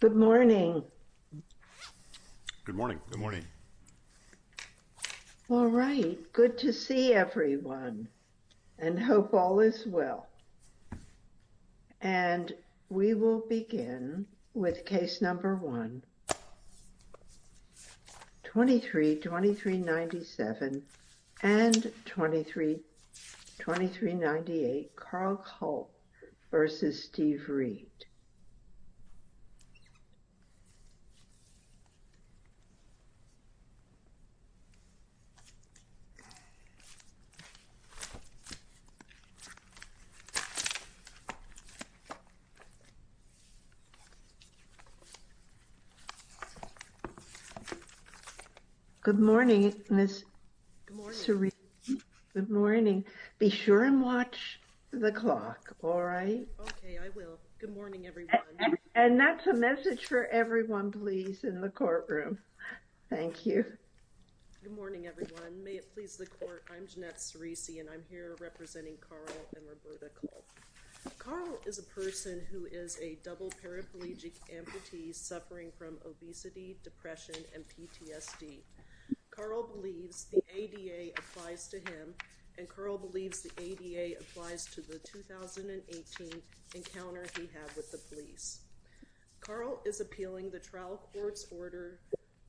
Good morning. Good morning. Good morning. All right. Good to see everyone and hope all is well. And we will begin with case number one. 23-2397 and 23-2398 Carl Culp v. Steve Reed Good morning. Good morning. Good morning. Be sure and watch the clock. All right. Okay. I will. Good morning, everyone. And that's a message for everyone, please, in the courtroom. Thank you. Good morning, everyone. May it please the court. I'm Jeanette Sirisi and I'm here representing Carl and Roberta Culp. Carl is a person who is a double paraplegic amputee suffering from obesity, depression and PTSD. Carl believes the ADA applies to him and Carl believes the ADA applies to the 2018 encounter he had with the police. Carl is appealing the trial court's order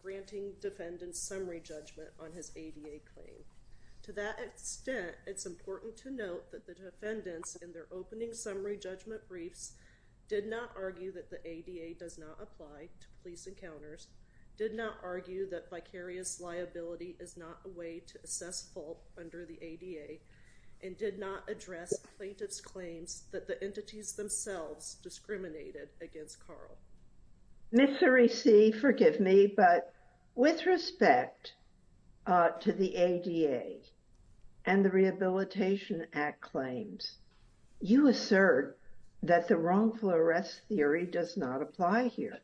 granting defendants summary judgment on his ADA claim. To that extent, it's important to note that the defendants in their opening summary judgment briefs did not argue that the ADA does not apply to police encounters, did not argue that vicarious liability is not a way to assess fault under the ADA, and did not address plaintiff's claims that the entities themselves discriminated against Carl. Ms. Sirisi, forgive me, but with respect to the ADA and the Rehabilitation Act claims, you assert that the wrongful arrest theory does not apply here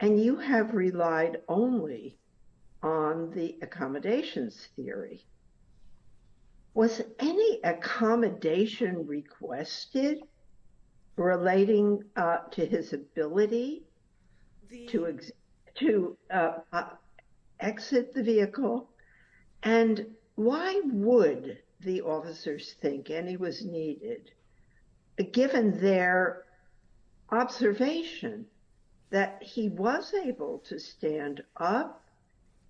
and you have relied only on the accommodations theory. Was any accommodation requested relating to his ability to exit the vehicle? And why would the officers think any was needed, given their observation that he was able to stand up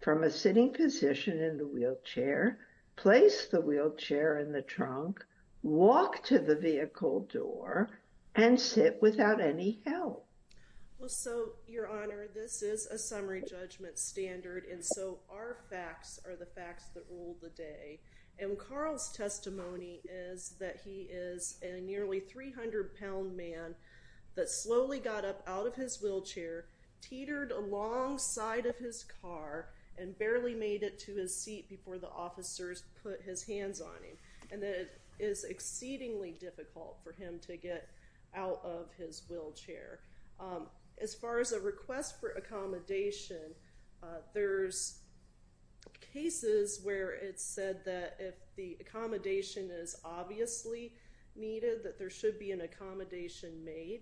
from a sitting position in the wheelchair, place the wheelchair in the trunk, walk to the vehicle door, and sit without any help? Well, so, Your Honor, this is a summary judgment standard and so our facts are the facts that rule the day. And Carl's testimony is that he is a nearly 300-pound man that slowly got up out of his wheelchair, teetered alongside of his car, and barely made it to his seat before the officers put his hands on him. And it is exceedingly difficult for him to get out of his wheelchair. As far as a request for accommodation, there's cases where it's said that if the accommodation is obviously needed, that there should be an accommodation made.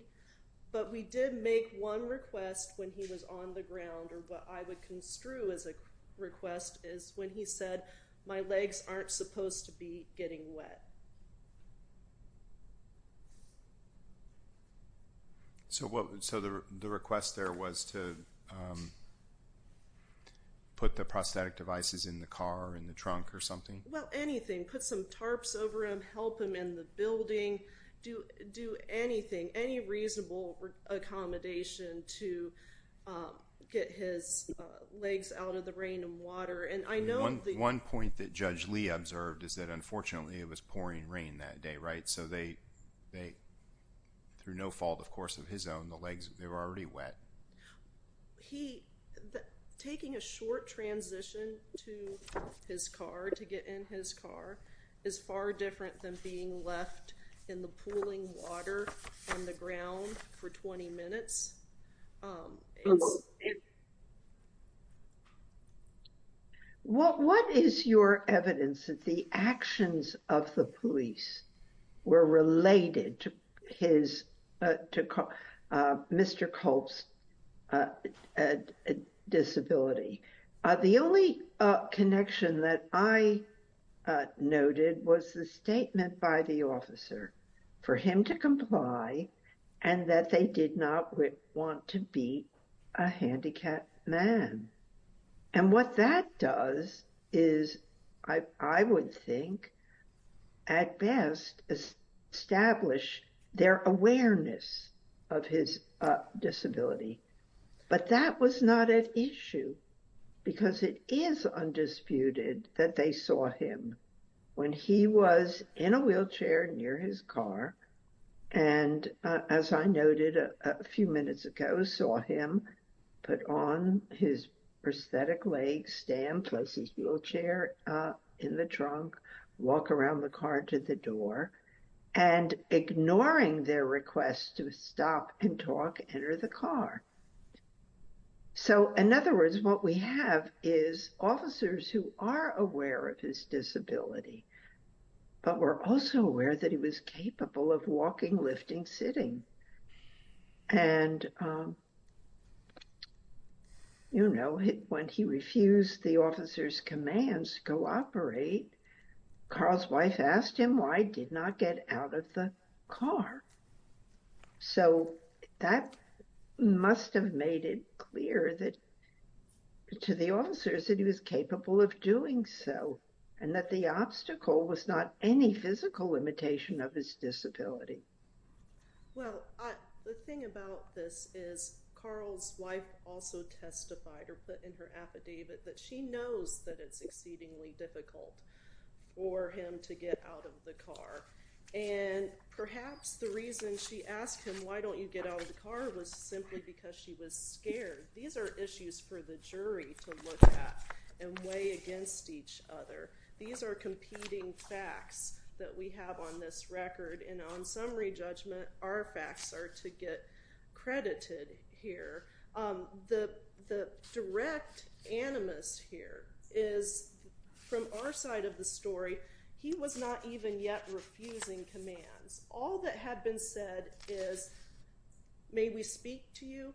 But we did make one request when he was on the ground or what I would construe as a request is when he said, my legs aren't supposed to be getting wet. So, the request there was to put the prosthetic devices in the car or in the trunk or something? Well, anything. Put some tarps over him, help him in the building, do anything, any reasonable accommodation to get his legs out of the rain and water. One point that Judge Lee observed is that unfortunately it was pouring rain that day, right? So they, through no fault of course of his own, the legs, they were already wet. Taking a short transition to his car, to get in his car, is far different than being left in the pooling water on the ground for 20 minutes. What is your evidence that the actions of the police were related to Mr. Culp's disability? The only connection that I noted was the statement by the officer for him to comply and that they did not want to be a handicapped man. And what that does is, I would think, at best establish their awareness of his disability. But that was not an issue because it is undisputed that they saw him when he was in a wheelchair near his car and, as I noted a few minutes ago, saw him put on his prosthetic leg, stand, place his wheelchair in the trunk, walk around the car to the door, and ignoring their request to stop and talk, enter the car. So in other words, what we have is officers who are aware of his disability but were also aware that he was capable of walking, lifting, sitting. And, you know, when he refused the officer's commands to cooperate, Carl's wife asked him why he did not get out of the car. So that must have made it clear that to the officers that he was capable of doing so and that the obstacle was not any physical limitation of his disability. Well, the thing about this is Carl's wife also testified or put in her affidavit that she knows that it's exceedingly difficult for him to get out of the car. And perhaps the reason she asked him why don't you get out of the car was simply because she was scared. These are issues for the jury to look at and weigh against each other. These are competing facts that we have on this record. And on summary judgment, our facts are to get credited here. The direct animus here is from our side of the story, he was not even yet refusing commands. All that had been said is may we speak to you?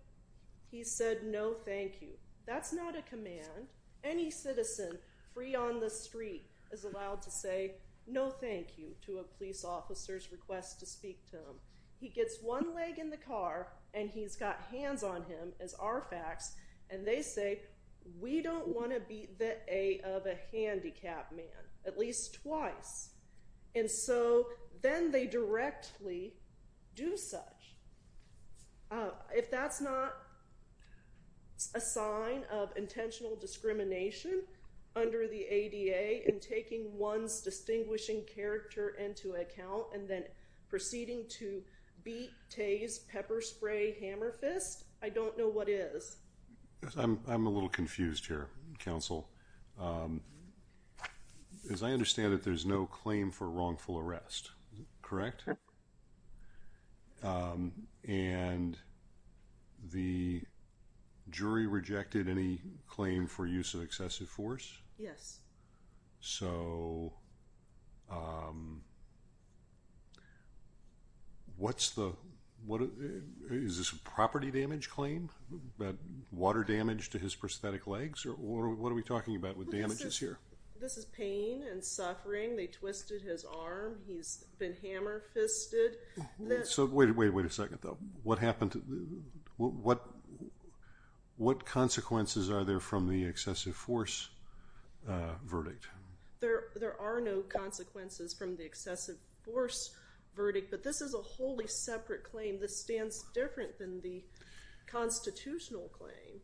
He said no thank you. That's not a command. Any citizen free on the street is allowed to say no thank you to a police officer's request to speak to him. He gets one leg in the car and he's got hands on him as our facts and they say we don't want to beat the A of a handicapped man at least twice. And so then they directly do such. If that's not a sign of intentional discrimination under the ADA in taking one's distinguishing character into account and then proceeding to beat, tase, pepper spray, hammer fist, I don't know what is. I'm a little confused here, counsel. As I understand it, there's no claim for wrongful arrest, correct? And the jury rejected any claim for use of excessive force? Yes. So um what's the what is this a property damage claim? About water damage to his prosthetic legs or what are we talking about with damages here? This is pain and suffering. They twisted his arm, he's been hammer fisted. So wait, wait, wait a second though. What happened? What what consequences are there from the excessive force verdict? There are no consequences from the excessive force verdict but this is a wholly separate claim. This stands different than the constitutional claim.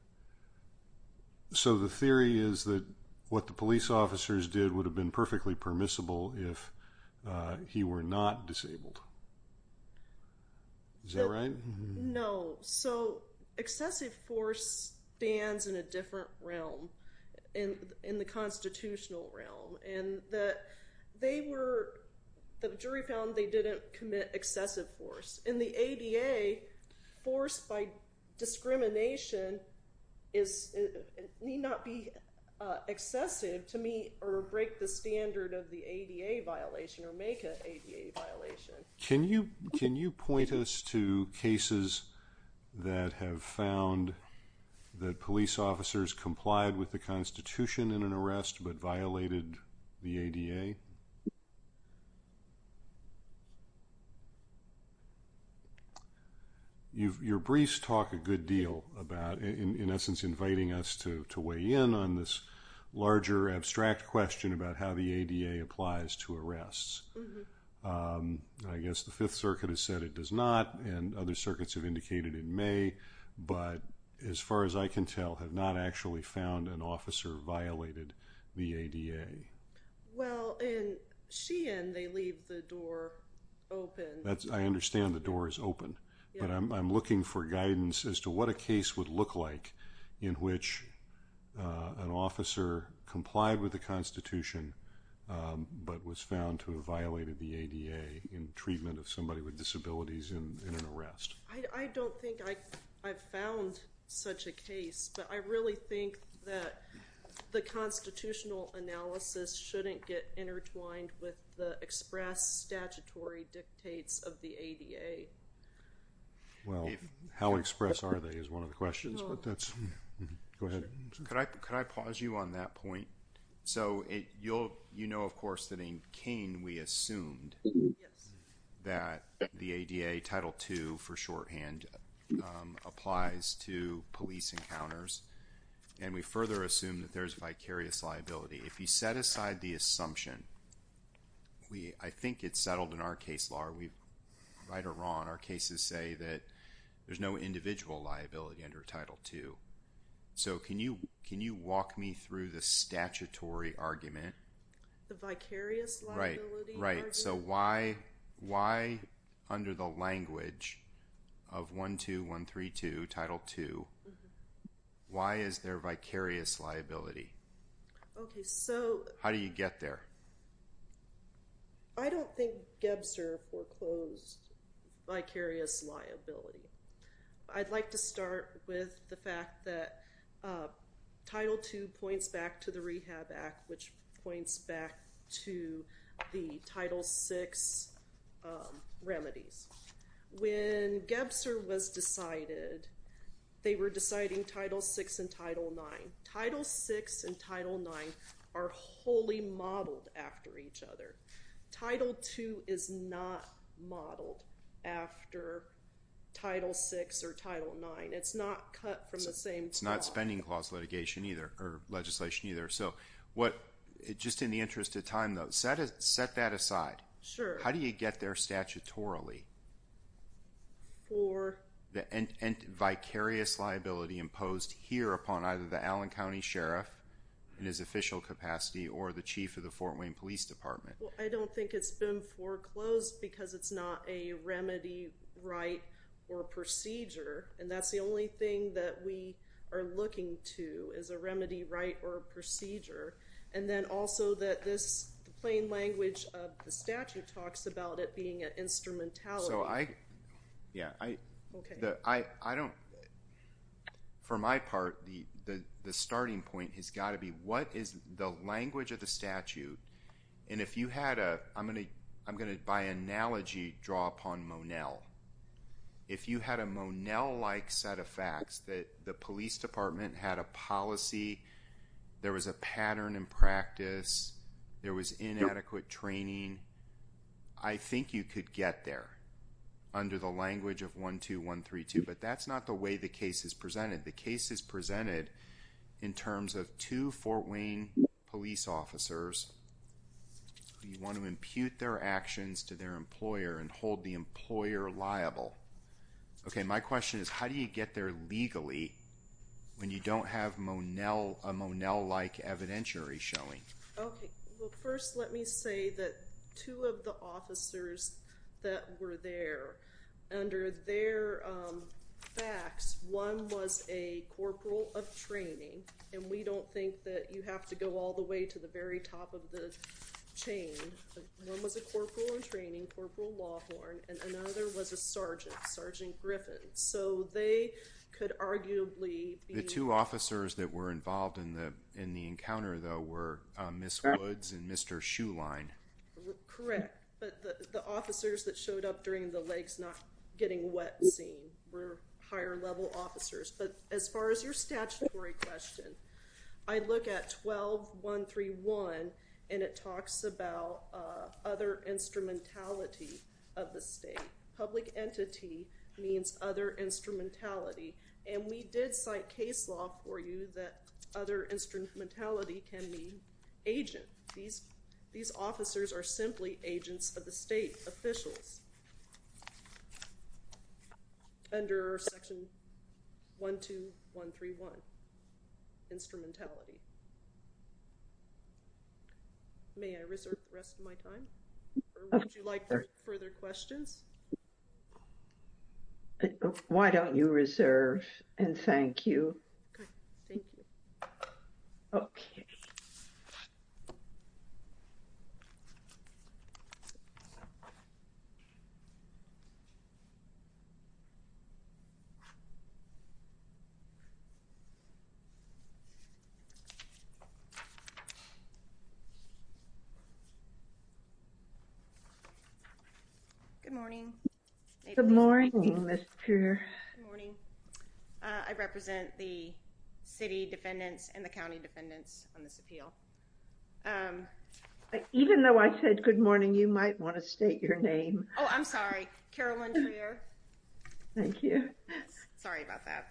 So the theory is that what the police officers did would have been excessive force stands in a different realm in the constitutional realm and that they were the jury found they didn't commit excessive force. In the ADA, force by discrimination is need not be excessive to meet or break the standard of the ADA violation or make an ADA violation. Can you can you point us to cases that have found that police officers complied with the constitution in an arrest but violated the ADA? Your briefs talk a good deal about in essence inviting us to to weigh in on this larger abstract question about how the ADA applies to arrests. I guess the Fifth Circuit has said it does not and other circuits have indicated it may but as far as I can tell have not actually found an officer violated the ADA. Well in Sheehan they leave the door open. That's I understand the door is open but I'm looking for guidance as to what a case would look like in which an officer complied with the constitution but was found to have violated the ADA in treatment of somebody with disabilities in an arrest. I don't think I've found such a case but I really think that the constitutional analysis shouldn't get intertwined with the express statutory dictates of the ADA. Well how express are they is one of the questions but that's Go ahead. Could I could I pause you on that point? So it you'll you know of course that in Kane we assumed that the ADA Title II for shorthand applies to police encounters and we further assume that there's vicarious liability. If you set aside the assumption we I think it's settled in our case law we right or wrong our cases say that there's no individual liability under Title II. So can you can you walk me through the statutory argument? The vicarious liability? Right so why why under the language of 12132 Title II why is there vicarious liability? Okay so how do you get there? I don't think Gebser foreclosed vicarious liability. I'd like to start with the fact that Title II points back to the Rehab Act which points back to the Title VI remedies. When Gebser was decided they were deciding Title VI and Title IX. Title VI and IX are modeled after each other. Title II is not modeled after Title VI or Title IX. It's not cut from the same. It's not spending clause litigation either or legislation either. So what it just in the interest of time though set it set that aside. Sure. How do you get there statutorily? For the vicarious liability imposed here upon either the Allen County Sheriff in his official capacity or the Chief of the Fort Wayne Police Department. I don't think it's been foreclosed because it's not a remedy right or procedure and that's the only thing that we are looking to is a remedy right or procedure and then also that this plain language of the statute talks about it being an instrumentality. So I yeah I don't know. For my part the starting point has got to be what is the language of the statute and if you had a I'm going to I'm going to by analogy draw upon Monell. If you had a Monell like set of facts that the police department had a policy, there was a pattern in practice, there was inadequate training. I think you could get there under the language of 12132 but that's the way the case is presented. The case is presented in terms of two Fort Wayne police officers. You want to impute their actions to their employer and hold the employer liable. Okay my question is how do you get there legally when you don't have Monell a Monell like evidentiary showing? Okay well first let me say that two of the officers that were there under their facts one was a corporal of training and we don't think that you have to go all the way to the very top of the chain. One was a corporal in training, Corporal Lawhorn and another was a sergeant, Sergeant Griffin. So they could arguably be. The two officers that were involved in the in the encounter though were Miss Woods and Mr. Shuline. Correct but the officers that showed up during the legs not getting wet scene were higher level officers. But as far as your statutory question, I look at 12131 and it talks about other instrumentality of the state. Public entity means other instrumentality and we did cite case law for you that other instrumentality. Under section 12131 instrumentality. May I reserve the rest of my time or would you like further questions? Why don't you reserve and thank you. Thank you. Okay. Thank you. Good morning. Good morning, Mr. Good morning. I represent the city defendants and the county defendants on this appeal. Um, even though I said good morning, you might want to state your name. Oh, I'm sorry, Carolyn. Thank you. Sorry about that.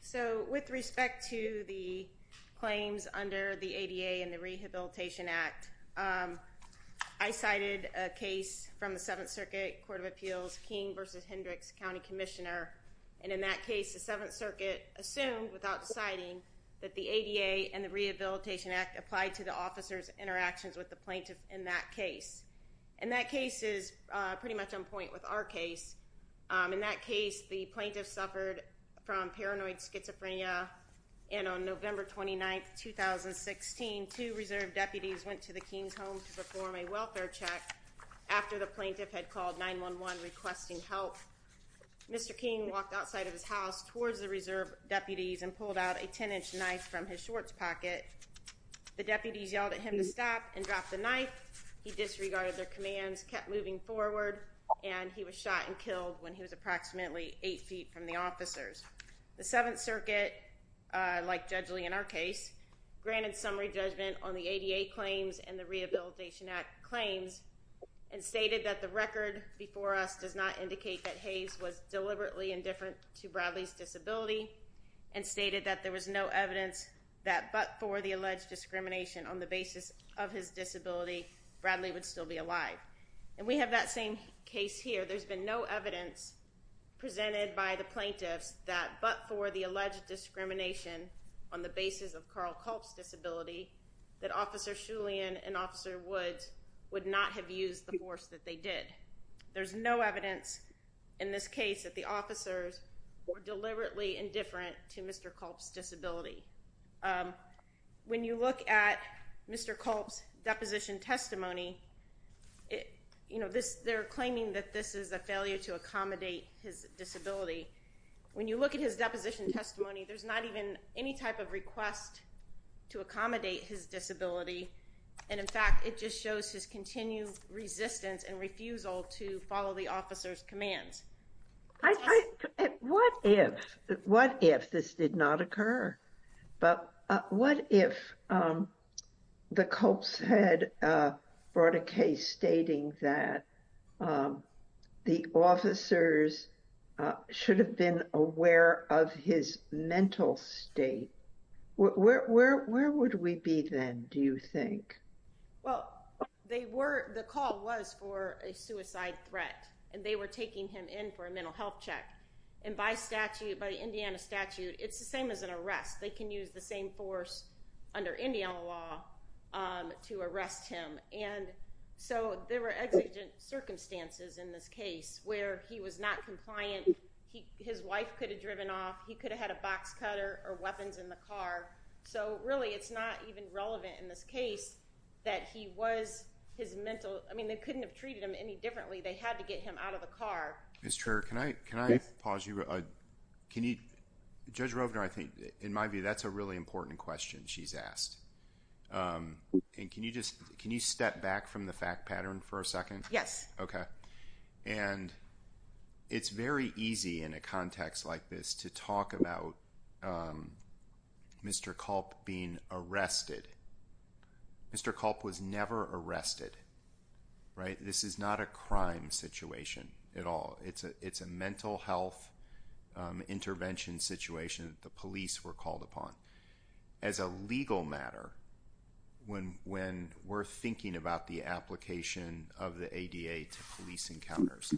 So with respect to the claims under the ADA and the Rehabilitation Act, um, I cited a case from the Seventh Circuit Court of Appeals King versus Hendricks County Commissioner. And in that case, the Seventh Circuit assumed without citing that the ADA and the Rehabilitation Act applied to the officers interactions with the plaintiff in that case. And that case is pretty much on point with our case. In that case, the plaintiff suffered from paranoid schizophrenia. And on November 29, 2016, two reserve deputies went to the King's home to perform a welfare check after the plaintiff had called 911 requesting help. Mr. King walked outside of his house towards the reserve deputies and pulled out a 10-inch knife from his shorts pocket. The deputies yelled at him to stop and drop the knife. He disregarded their commands, kept moving forward, and he was shot and killed when he was approximately eight feet from the officers. The Seventh Circuit, uh, like Judge Lee in our case, granted summary judgment on the ADA claims and the Rehabilitation Act claims and stated that the record before us does not indicate that Hayes was deliberately indifferent to Bradley's disability and stated that there was no evidence that but for the alleged discrimination on the basis of his disability, Bradley would still be alive. And we have that same case here. There's been no evidence presented by the plaintiffs that but for the alleged discrimination on the basis of Carl Culp's disability, that Officer Shulian and Officer Woods would not have used the force that they did. There's no evidence in this case that the officers were deliberately indifferent to Mr. Culp's disability. When you look at Mr. Culp's deposition testimony, it, you know, this, they're claiming that this is a failure to accommodate his disability. When you look at his deposition testimony, there's not even any type of request to accommodate his disability. And in fact, it just shows his continued resistance and refusal to follow the officer's commands. I, I, what if, what if this did not occur? But, uh, what if, um, the Culp's had, uh, brought a case stating that, um, the officers, uh, should have been aware of his mental state? Where, where, where would we be then, do you think? Well, they were, the call was for a suicide threat and they were taking him in for a mental health check. And by statute, by the Indiana statute, it's the same as an arrest. They can use the same force under Indiana law, um, to arrest him. And so there were exigent circumstances in this case where he was not compliant. He, his wife could have driven off. He could have had a box cutter or weapons in the car. So really it's not even relevant in this case that he was his mental, I mean, they couldn't have treated him any differently. They had to get him out of the car. Mr. Chair, can I, can I pause you? Uh, can you, Judge Rovner, I think in my view, that's a really important question she's asked. Um, and can you just, can you step back from the fact pattern for a second? Yes. Okay. And it's very easy in a context like this to talk about, um, Mr. Culp being arrested. Mr. Culp was never arrested, right? This is not a legal matter when, when we're thinking about the application of the ADA to police encounters.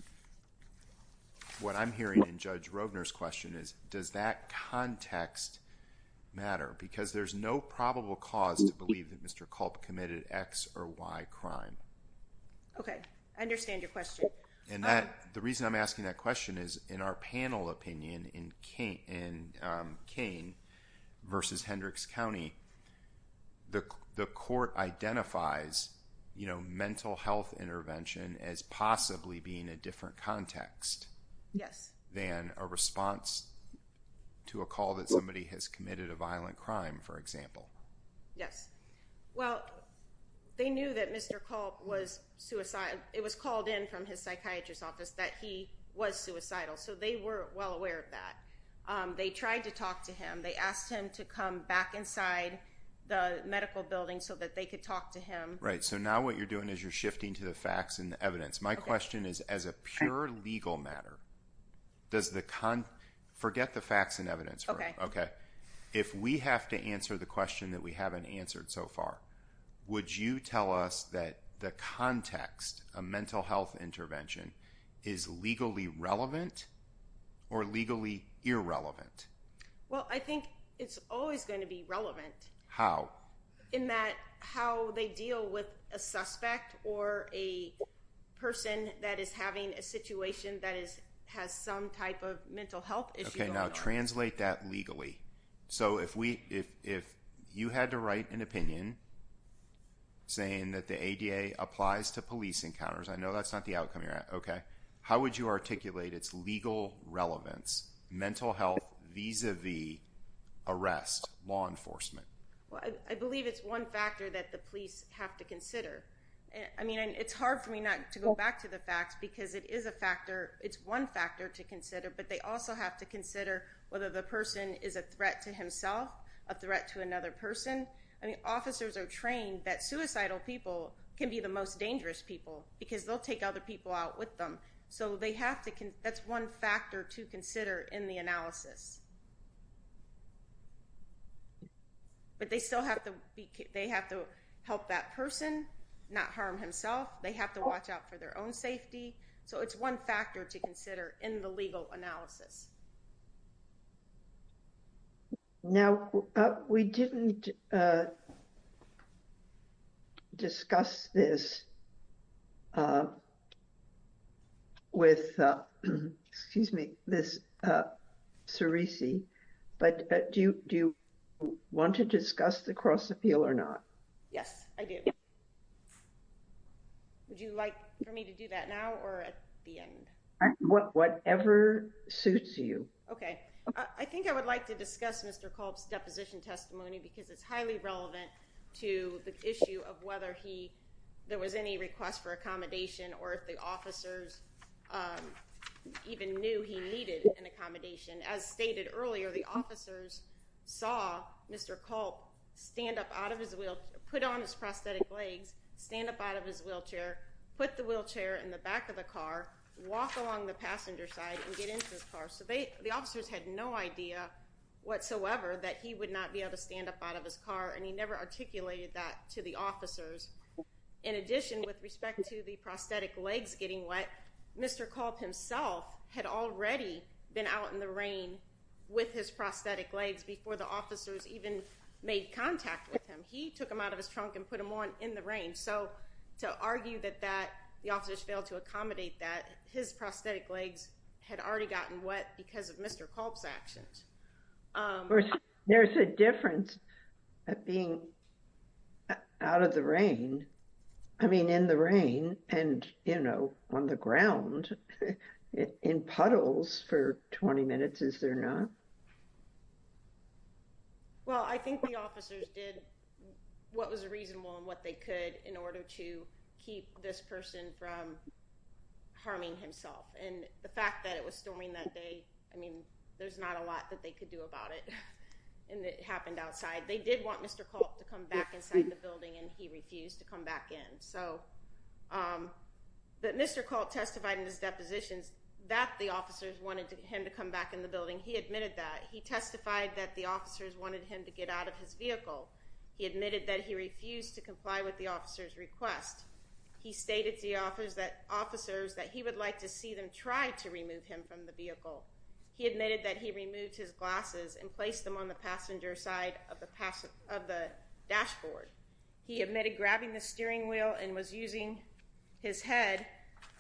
What I'm hearing in Judge Rovner's question is does that context matter? Because there's no probable cause to believe that Mr. Culp committed X or Y crime. Okay. I understand your question. And that, the reason I'm asking that question is in our panel opinion in Kane, in Kane versus Hendricks County, the, the court identifies, you know, mental health intervention as possibly being a different context. Yes. Than a response to a call that somebody has committed a violent crime, for example. Yes. Well, they knew that Mr. Culp was suicidal. It was called in from his psychiatrist's office that he was suicidal. So they were well aware of that. Um, they tried to talk to him. They asked him to come back inside the medical building so that they could talk to him. Right. So now what you're doing is you're shifting to the facts and the evidence. My question is as a pure legal matter, does the con, forget the facts and evidence. Okay. Okay. If we have to answer the question that we haven't answered so far, would you tell us that the context of mental health intervention is legally relevant or legally irrelevant? Well, I think it's always going to be relevant. How? In that how they deal with a suspect or a person that is having a situation that is, has some type of mental health issue. Okay. Now translate that legally. So if we, if, if you had to write an opinion saying that the ADA applies to police encounters, I know that's not the outcome you're at. Okay. How would you articulate its legal relevance, mental health, vis-a-vis arrest, law enforcement? Well, I believe it's one factor that the police have to consider. I mean, it's hard for me not to go back to the facts because it is a factor. It's one factor to consider, but they also have to consider whether the person is a threat to himself, a threat to another person. I mean, officers are trained that suicidal people can be the most dangerous people because they'll take other people out with them. So they have to, that's one factor to consider in the analysis. But they still have to be, they have to help that person not harm himself. They have to watch out for their own safety. So it's one factor to consider in the legal analysis. Now, we didn't discuss this with, excuse me, this, Sirisi, but do you want to discuss the cross-appeal or not? Yes, I do. Would you like for me to do that now or at the end? Whatever suits you. Okay. I think I would like to discuss Mr. Culp's deposition testimony because it's highly relevant to the issue of whether there was any request for accommodation or if the officers even knew he needed an accommodation. As stated earlier, the officers saw Mr. Culp stand up out of his wheelchair, put on his prosthetic legs, stand up out of his wheelchair, put the wheelchair in the back of the car, walk along the passenger side and get into his car. So the officers had no idea whatsoever that he would not be able to stand up out of his car and he never articulated that to the officers. In addition, with respect to the prosthetic legs getting wet, Mr. Culp himself had already been out in the rain with his prosthetic legs before the officers even made contact with him. So even if the officers failed to accommodate that, his prosthetic legs had already gotten wet because of Mr. Culp's actions. There's a difference of being out of the rain, I mean in the rain, and, you know, on the ground in puddles for 20 minutes, is there not? Well, I think the officers did what was reasonable and what they could in order to keep this person from harming himself. And the fact that it was storming that day, I mean, there's not a lot that they could do about it and it happened outside. They did want Mr. Culp to come back inside the building and he refused to come back in. So, but Mr. Culp testified in his depositions that the testified that the officers wanted him to get out of his vehicle. He admitted that he refused to comply with the officer's request. He stated to the officers that he would like to see them try to remove him from the vehicle. He admitted that he removed his glasses and placed them on the passenger side of the dashboard. He admitted grabbing the steering wheel and was using his head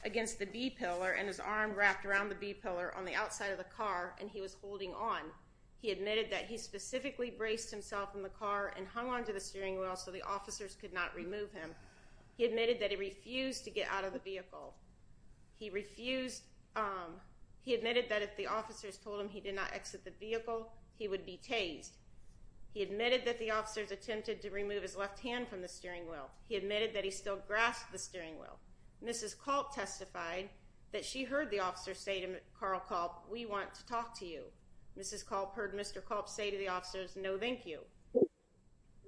against the b-pillar and his arm wrapped around the b-pillar on the outside of the car and he was holding on. He admitted that he specifically braced himself in the car and hung onto the steering wheel so the officers could not remove him. He admitted that he refused to get out of the vehicle. He refused, he admitted that if the officers told him he did not exit the vehicle, he would be tased. He admitted that the officers attempted to remove his left hand from the steering wheel. He admitted that he still grasped the steering wheel. Mrs. Culp testified that she to talk to you. Mrs. Culp heard Mr. Culp say to the officers no thank you.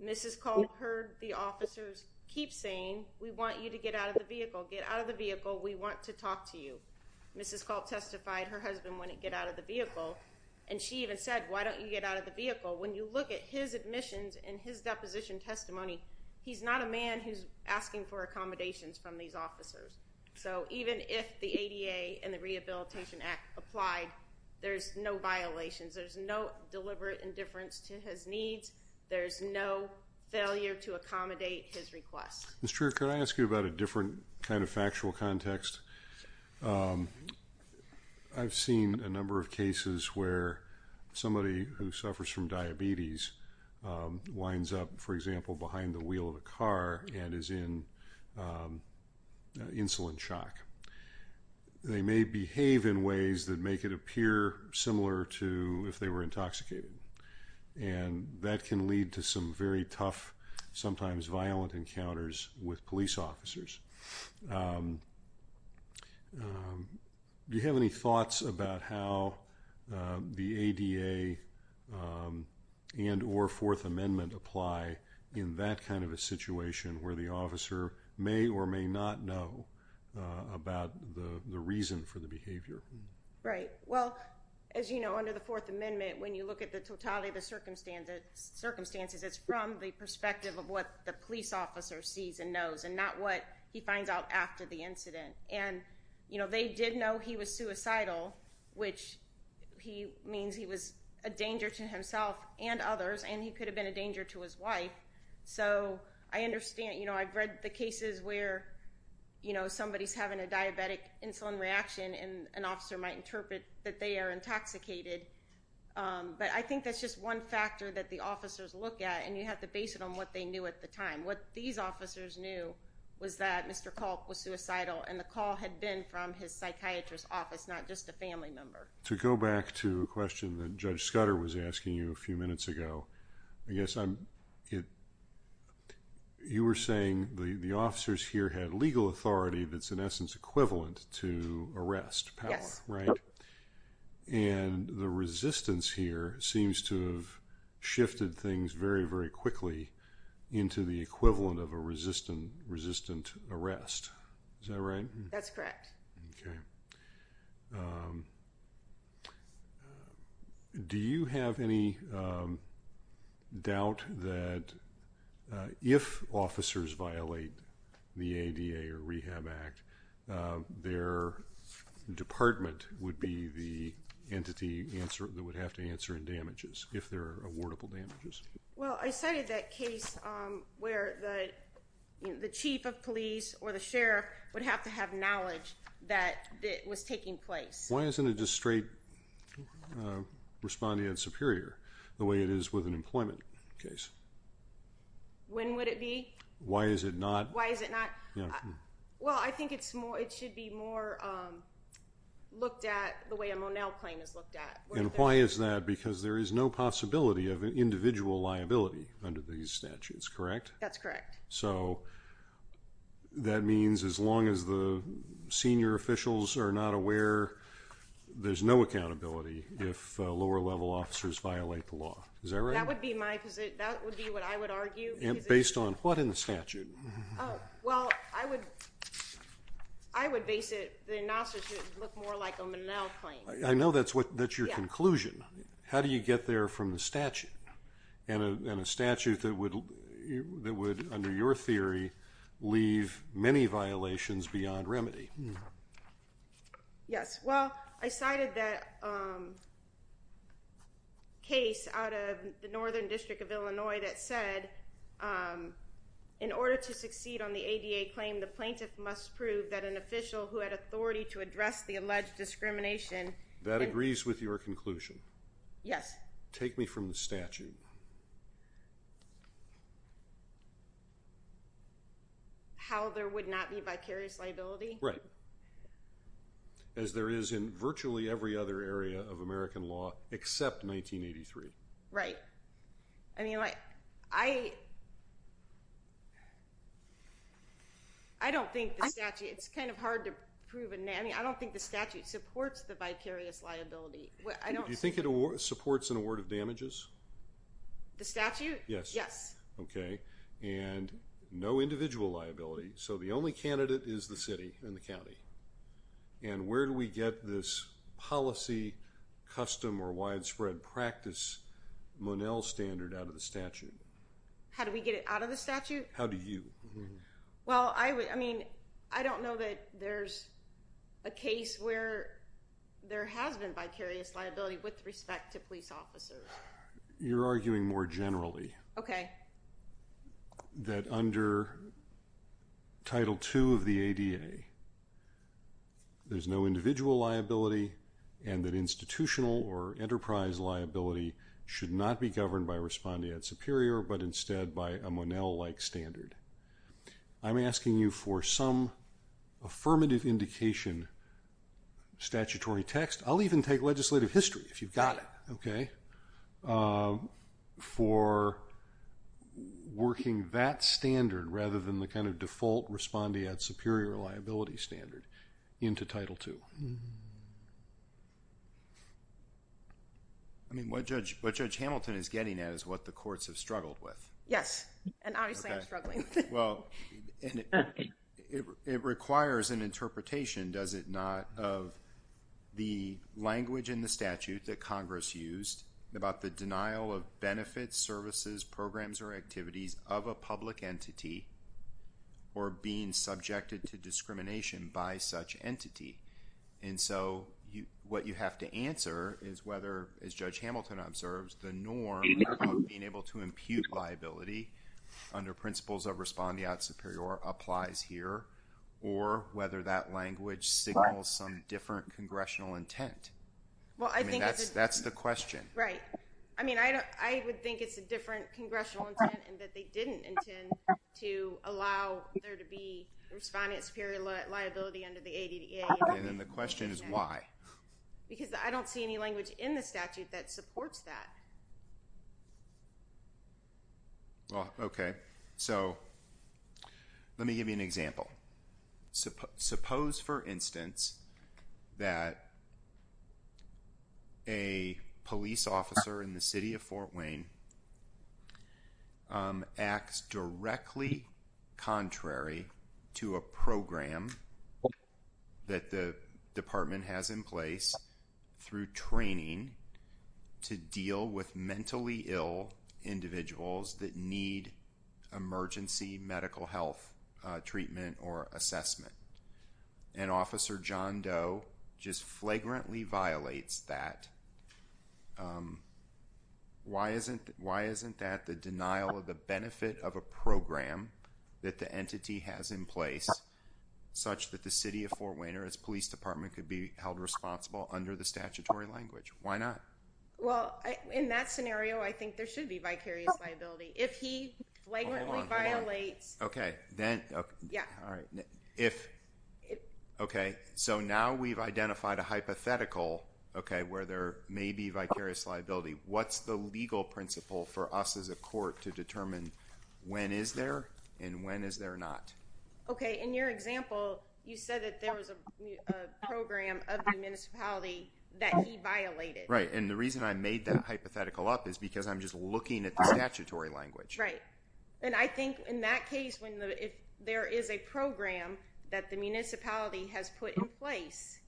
Mrs. Culp heard the officers keep saying we want you to get out of the vehicle, get out of the vehicle, we want to talk to you. Mrs. Culp testified her husband wouldn't get out of the vehicle and she even said why don't you get out of the vehicle. When you look at his admissions and his deposition testimony, he's not a man who's asking for accommodations from these officers. So even if the ADA and the Rehabilitation Act applied, there's no violations, there's no deliberate indifference to his needs, there's no failure to accommodate his request. Mr. Trier, could I ask you about a different kind of factual context? I've seen a number of cases where somebody who suffers from diabetes winds up, for example, behind the wheel of a car and is in insulin shock. They may behave in ways that make it appear similar to if they were intoxicated and that can lead to some very tough, sometimes violent encounters with police officers. Do you have any thoughts about how the ADA and or Fourth Amendment apply in that kind of a situation where the officer may or may not know about the reason for the behavior? Right. Well, as you know, under the Fourth Amendment, when you look at the totality of the circumstances, it's from the perspective of what the police officer sees and knows and not what he finds out after the incident. And they did know he was suicidal, which means he was a danger to himself and others and he could have been a danger to his wife. So I understand, you know, I've read the cases where, you know, somebody's having a diabetic insulin reaction and an officer might interpret that they are intoxicated. But I think that's just one factor that the officers look at and you have to base it on what they knew at the time. What these officers knew was that Mr. Culp was suicidal and the call had been from his psychiatrist office, not just a family member. To go back to a question that Judge Scudder was asking you a few minutes ago, I guess you were saying the officers here had legal authority that's in essence equivalent to arrest power, right? And the resistance here seems to have shifted things very, very quickly into the equivalent of a resistant arrest. Is that right? That's correct. Okay. Do you have any doubt that if officers violate the ADA or Rehab Act, their department would be the entity that would have to answer in damages if there are awardable damages? Well, I cited that case where the chief of police or the sheriff would have to have knowledge that it was taking place. Why isn't it just straight respondee and superior the way it is with an employment case? When would it be? Why is it not? Why is it not? Well, I think it should be more looked at the way a Monell claim is looked at. And why is that? Because there is no possibility of individual liability under these statutes, correct? That's correct. So that means as long as the senior officials are not aware, there's no accountability if lower level officers violate the law. Is that right? That would be my position. That would be what I would argue. Based on what in the statute? Oh, well, I would base it, the NASA should look more like a Monell claim. I know that's your conclusion. How do you get there from the statute? And a statute that would, under your theory, leave many violations beyond remedy? Yes. Well, I cited that case out of the Northern District of Illinois that said, in order to succeed on the ADA claim, the plaintiff must prove that an official who had authority to address the alleged discrimination. That agrees with your conclusion? Yes. Take me from the statute. How there would not be vicarious liability? Right. As there is in virtually every other area of American law except 1983. Right. I mean, I don't think the statute, it's kind of hard to prove, I mean, I don't think the statute supports the vicarious liability. Do you think it supports an award of damages? The statute? Yes. Okay, and no individual liability, so the only candidate is the city and the county. And where do we get this policy, custom, or widespread practice Monell standard out of the statute? How do we get it out of the statute? How do you? Well, I mean, I don't know that there's a case where there has been vicarious liability with respect to police officers. You're arguing more generally. Okay. That under Title II of the ADA, there's no individual liability and that institutional or enterprise liability should not be governed by respondeat superior but instead by a Monell-like standard. I'm asking you for some affirmative indication, statutory text, I'll even take legislative history if you've got it, okay, for working that standard rather than the kind of I mean, what Judge Hamilton is getting at is what the courts have struggled with. Yes, and obviously I'm struggling. Well, it requires an interpretation, does it not, of the language in the statute that Congress used about the denial of benefits, services, programs, or activities of a public entity or being subjected to discrimination by such entity. And so, what you have to answer is whether, as Judge Hamilton observes, the norm of being able to impute liability under principles of respondeat superior applies here or whether that language signals some different congressional intent. I mean, that's the question. Right. I mean, I would think it's a different congressional intent and that they didn't intend to allow there to be respondeat superior liability under the ADDA. And then the question is why? Because I don't see any language in the statute that supports that. Well, okay. So, let me give you an example. Suppose, for instance, that a police officer in the city of Fort Wayne acts directly contrary to a program that the department has in place through training to deal with mentally ill individuals that need emergency medical health treatment or assessment. And Officer John Doe just flagrantly violates that. Why isn't that the denial of the benefit of a program that the entity has in place such that the city of Fort Wayne or its police department could be held responsible under the statutory language? Why not? Well, in that scenario, I think there should be vicarious liability. If he flagrantly violates... Okay. So now we've identified a hypothetical where there may be vicarious liability. What's the legal principle for us as a court to determine when is there and when is there not? Okay. In your example, you said that there was a program of the municipality that he violated. Right. And the reason I made that hypothetical up is because I'm just looking at the statutory language. Right. And I think in that case, there is a program that the municipality has put in place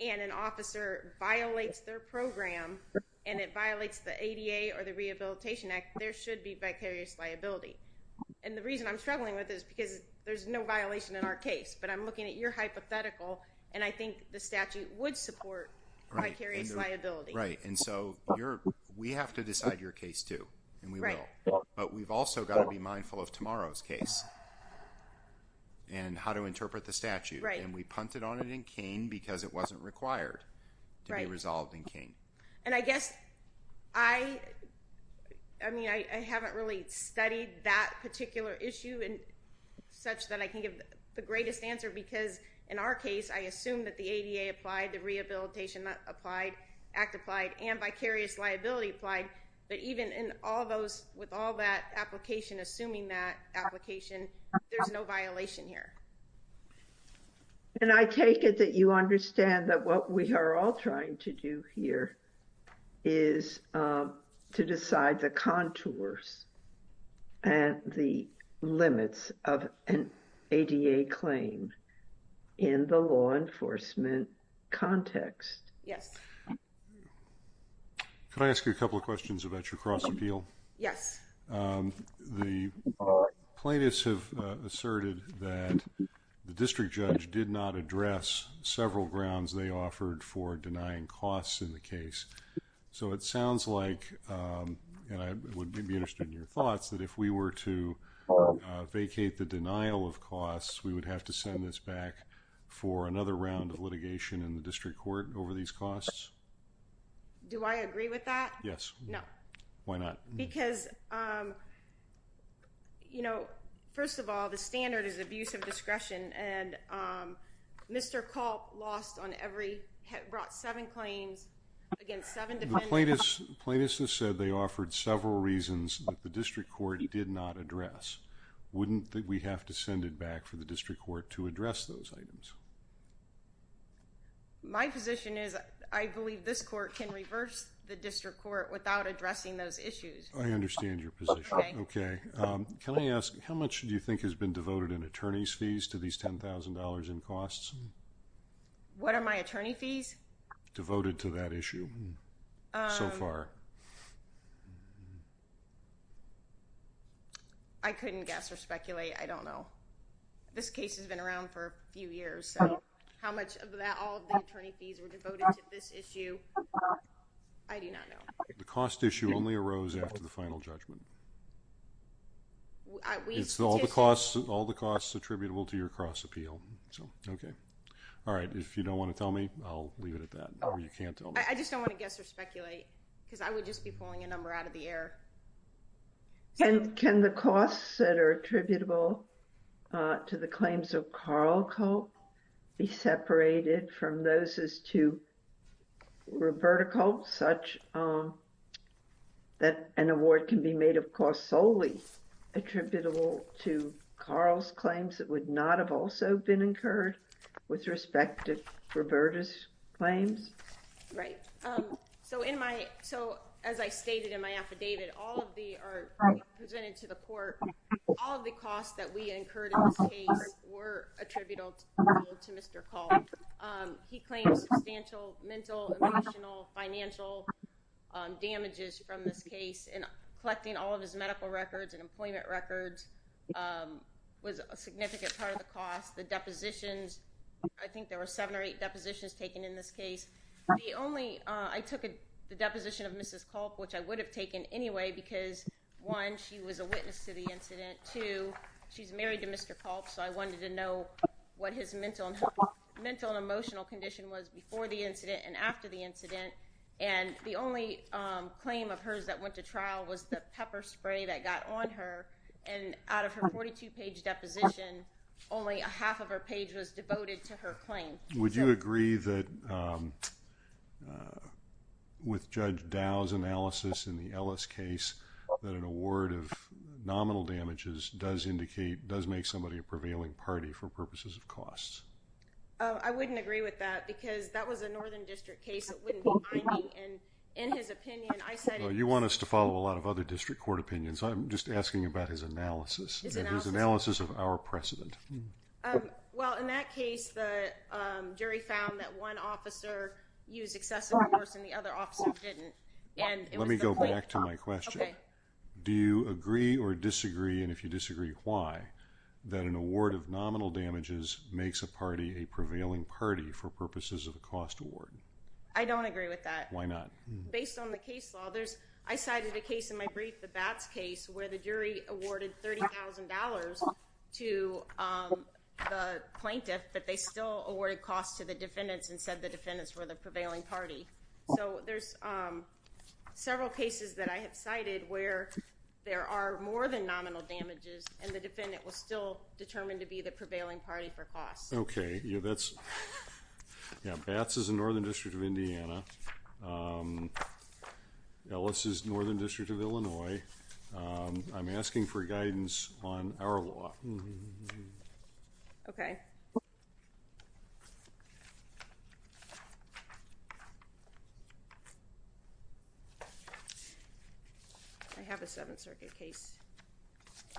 and an officer violates their program and it violates the ADA or the Rehabilitation Act, there should be vicarious liability. And the reason I'm struggling with this is because there's no violation in our case, but I'm looking at your hypothetical and I think the statute would support vicarious liability. Right. And so we have to decide your case too and we will, but we've also got to be mindful of tomorrow's case and how to interpret the statute. Right. And we punted on it in Kane because it wasn't required to be resolved in Kane. And I guess, I mean, I haven't really studied that particular issue and such that I can give the greatest answer because in our case, I assume that the ADA applied, the Rehabilitation Act applied and vicarious liability applied, but even in all those, with all that application, assuming that application, there's no violation here. And I take it that you understand that what we are all trying to do here is to decide the enforcement context. Yes. Could I ask you a couple of questions about your cross-appeal? Yes. The plaintiffs have asserted that the district judge did not address several grounds they offered for denying costs in the case. So it sounds like, and I would be interested in your thoughts, that if we were to vacate the denial of costs, we would have to send this back for another round of litigation in the district court over these costs? Do I agree with that? Yes. No. Why not? Because, you know, first of all, the standard is abuse of discretion and Mr. Culp lost on every, brought seven claims against seven defendants. The plaintiffs have said they offered several reasons that the district court did not address. Wouldn't that we have to send it back for the district court to address those items? My position is I believe this court can reverse the district court without addressing those issues. I understand your position. Okay. Can I ask, how much do you think has been devoted in attorney's fees to these $10,000 in costs? What are my attorney fees? Devoted to that issue so far? I couldn't guess or speculate. I don't know. This case has been around for a few years. So how much of that, all the attorney fees were devoted to this issue? I do not know. The cost issue only arose after the final judgment. It's all the costs, all the costs attributable to your cross appeal. So, okay. All right. If you don't want to tell me, I'll leave it at that or you can't tell me. I just don't want to guess or speculate because I would just be pulling a number out of the air. Can the costs that are attributable to the claims of Carl Culp be separated from those as to Roberta Culp such that an award can be made of costs solely attributable to Carl's claims that would not have also been incurred with respect to Roberta's claims? Right. So in my, so as I stated in my affidavit, all of the, presented to the court, all of the costs that we incurred in this case were attributable to Mr. Culp. He claims substantial mental, emotional, financial damages from this case and collecting all of his medical records and employment records was a significant part of the cost. The depositions, I think there were seven or eight depositions taken in this case. The only, I took the deposition of Mrs. Culp, which I would have taken anyway because one, she was a witness to the incident. Two, she's married to Mr. Culp, so I wanted to know what his mental and emotional condition was before the incident and after the incident. And the only claim of hers that went to trial was the pepper spray that got on her and out of her 42-page deposition, only a half of her page was devoted to her claim. Would you agree that with Judge Dow's analysis in the Ellis case that an award of nominal damages does indicate, does make somebody a prevailing party for purposes of costs? Oh, I wouldn't agree with that because that was a Northern District case. It wouldn't be mine and in his opinion, I said... You want us to follow a lot of other district court opinions. I'm just asking about his analysis of our precedent. Well, in that case, the jury found that one officer used excessive force and the other officer didn't. Let me go back to my question. Do you agree or disagree? And if you disagree, why? That an award of nominal damages makes a party a prevailing party for purposes of costs. I cited a case in my brief, the Batts case, where the jury awarded $30,000 to the plaintiff, but they still awarded costs to the defendants and said the defendants were the prevailing party. So there's several cases that I have cited where there are more than nominal damages and the defendant was still determined to be the prevailing party for costs. Okay. Yeah, that's... Yeah, Batts is a Northern District of Indiana. Ellis is Northern District of Illinois. I'm asking for guidance on our law. Okay. I have a Seventh Circuit case.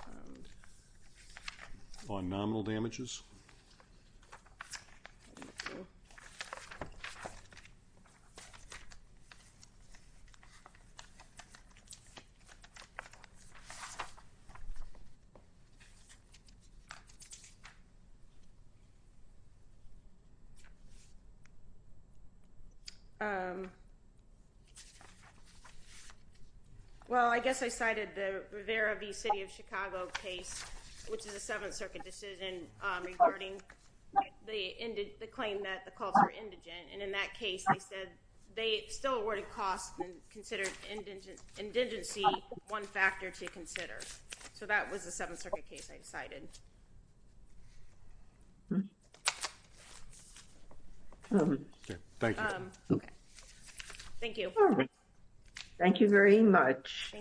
Okay. On nominal damages? Thank you. Well, I guess I cited the Rivera v. City of Chicago case, which is a Seventh Circuit decision regarding the claim that the cults were indigent. And in that case, they said they still awarded costs and considered indigency one factor to consider. So that was the Seventh Circuit case I cited. Okay. Thank you. Okay. Thank you. Thank you very much.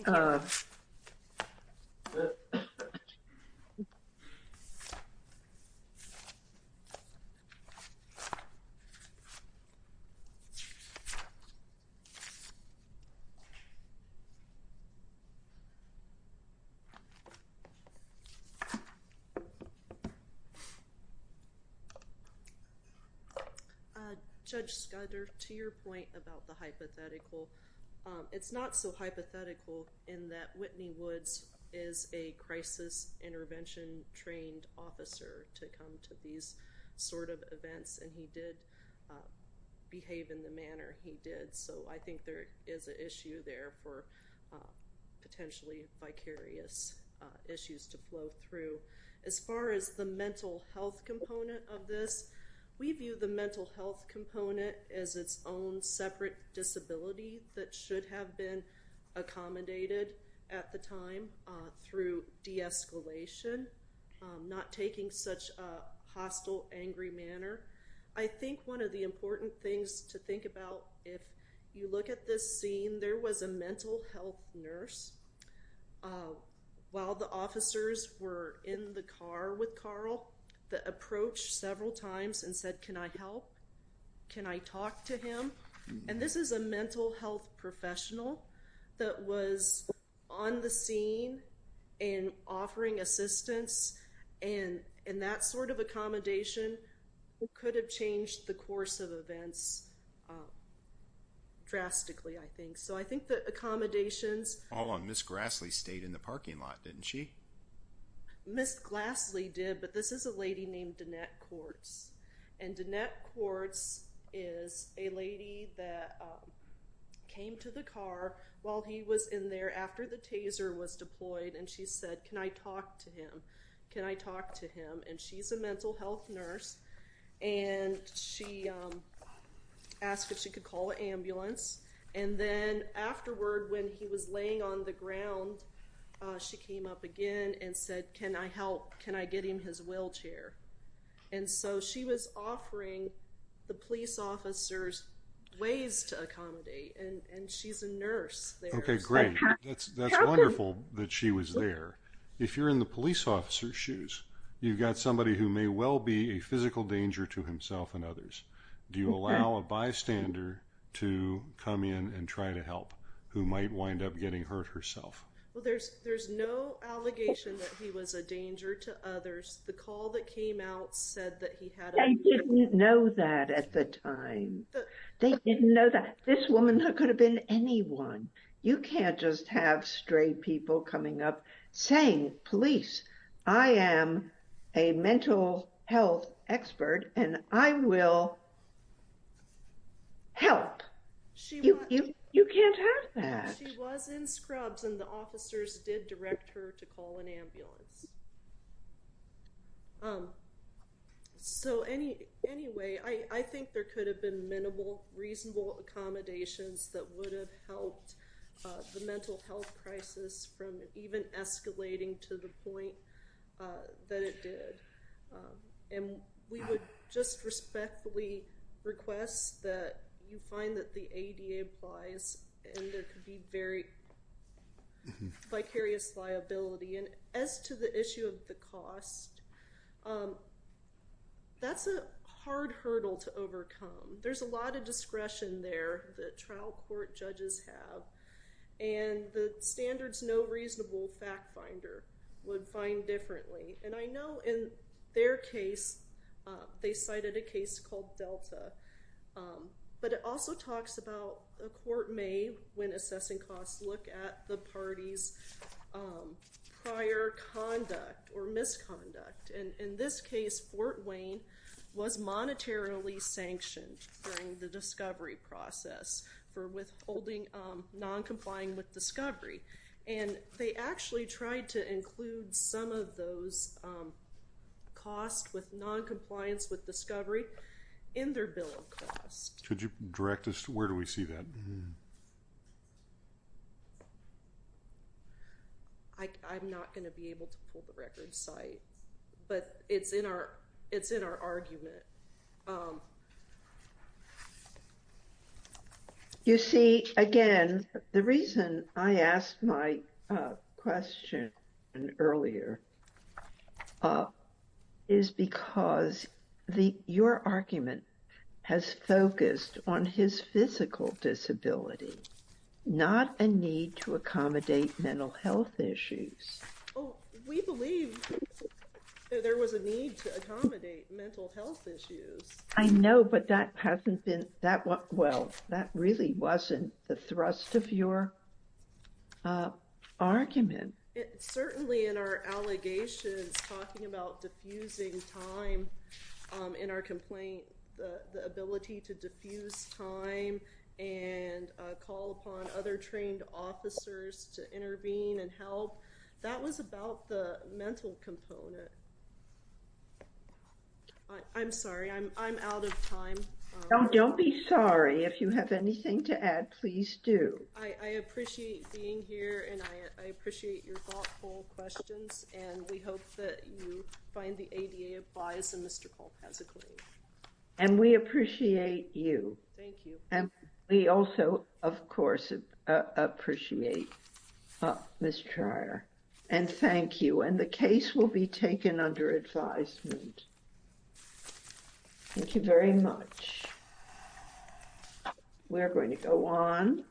Judge Skudder, to your point about the hypothetical, it's not so hypothetical in that Whitney Woods is a crisis intervention trained officer to come to these sort of events, and he did behave in the manner he did. So I think there is an issue there for potentially vicarious issues to flow through. As far as the mental health component of this, we view the mental health component as its own separate disability that should have been accommodated at the time through de-escalation, not taking such a hostile, angry manner. I think one of the important things to think about if you look at this scene, there was a mental health nurse while the officers were in the car with Carl that approached several times and said, can I help? Can I talk to him? And this is a mental health professional that was on the scene and offering assistance. And that sort of accommodation could have changed the course of events drastically, I think. So I think that accommodations... Hold on. Ms. Grassley stayed in the parking lot, didn't she? Ms. Grassley did, but this is a lady named Danette Quartz. And Danette Quartz is a lady that came to the car while he was in there after the taser was deployed and she said, can I talk to him? Can I talk to him? And she's a mental health nurse and she asked if she could call an ambulance. And then afterward, when he was laying on the ground, she came up again and said, can I help? Can I get him his wheelchair? And so she was offering the police officers ways to accommodate and she's a nurse there. Okay, great. That's wonderful that she was there. If you're in the police officer's shoes, you've got somebody who may well be a physical danger to himself and others. Do you allow a bystander to come in and try to help who might wind up getting hurt herself? Well, there's no allegation that he was a danger to others. The call that came out said that he had... They didn't know that at the time. They didn't know that. This woman could have been anyone. You can't just have stray people coming up saying, police, I am a mental health expert and I will help. You can't have that. She was in scrubs and the officers did direct her to call an ambulance. So anyway, I think there could have been minimal, reasonable accommodations that would have helped the mental health crisis from even escalating to the point that it did. And we would just respectfully request that you find that the ADA applies and there could be very vicarious liability. And as to the issue of the cost, that's a hard hurdle to overcome. There's a lot of discretion there that trial court judges have and the standards no reasonable fact finder would find differently. And I know in their case, they cited a case called Delta. But it also talks about a court may, when assessing costs, look at the party's prior conduct or misconduct. In this case, Fort Wayne was monetarily sanctioned during the discovery process for withholding non-complying with discovery. And they actually tried to include some of those costs with non-compliance with discovery in their bill of rights. I'm not going to be able to pull the record site, but it's in our argument. You see, again, the reason I asked my question earlier is because the, your argument has focused on his physical disability, not a need to accommodate mental health issues. Oh, we believe there was a need to accommodate mental health issues. I know, but that hasn't been that well, that really wasn't the thrust of your argument. Certainly in our allegations, talking about diffusing time in our complaint, the ability to diffuse time and call upon other trained officers to intervene and help, that was about the mental component. I'm sorry, I'm out of time. Don't be sorry. If you have anything to add, please do. I appreciate being here and I appreciate your thoughtful questions and we hope that you find the ADA applies and Mr. Polk has a claim. And we appreciate you. Thank you. And we also, of course, appreciate Ms. Trier and thank you. And the case will be taken under advisement. Thank you very much. We're going to go on.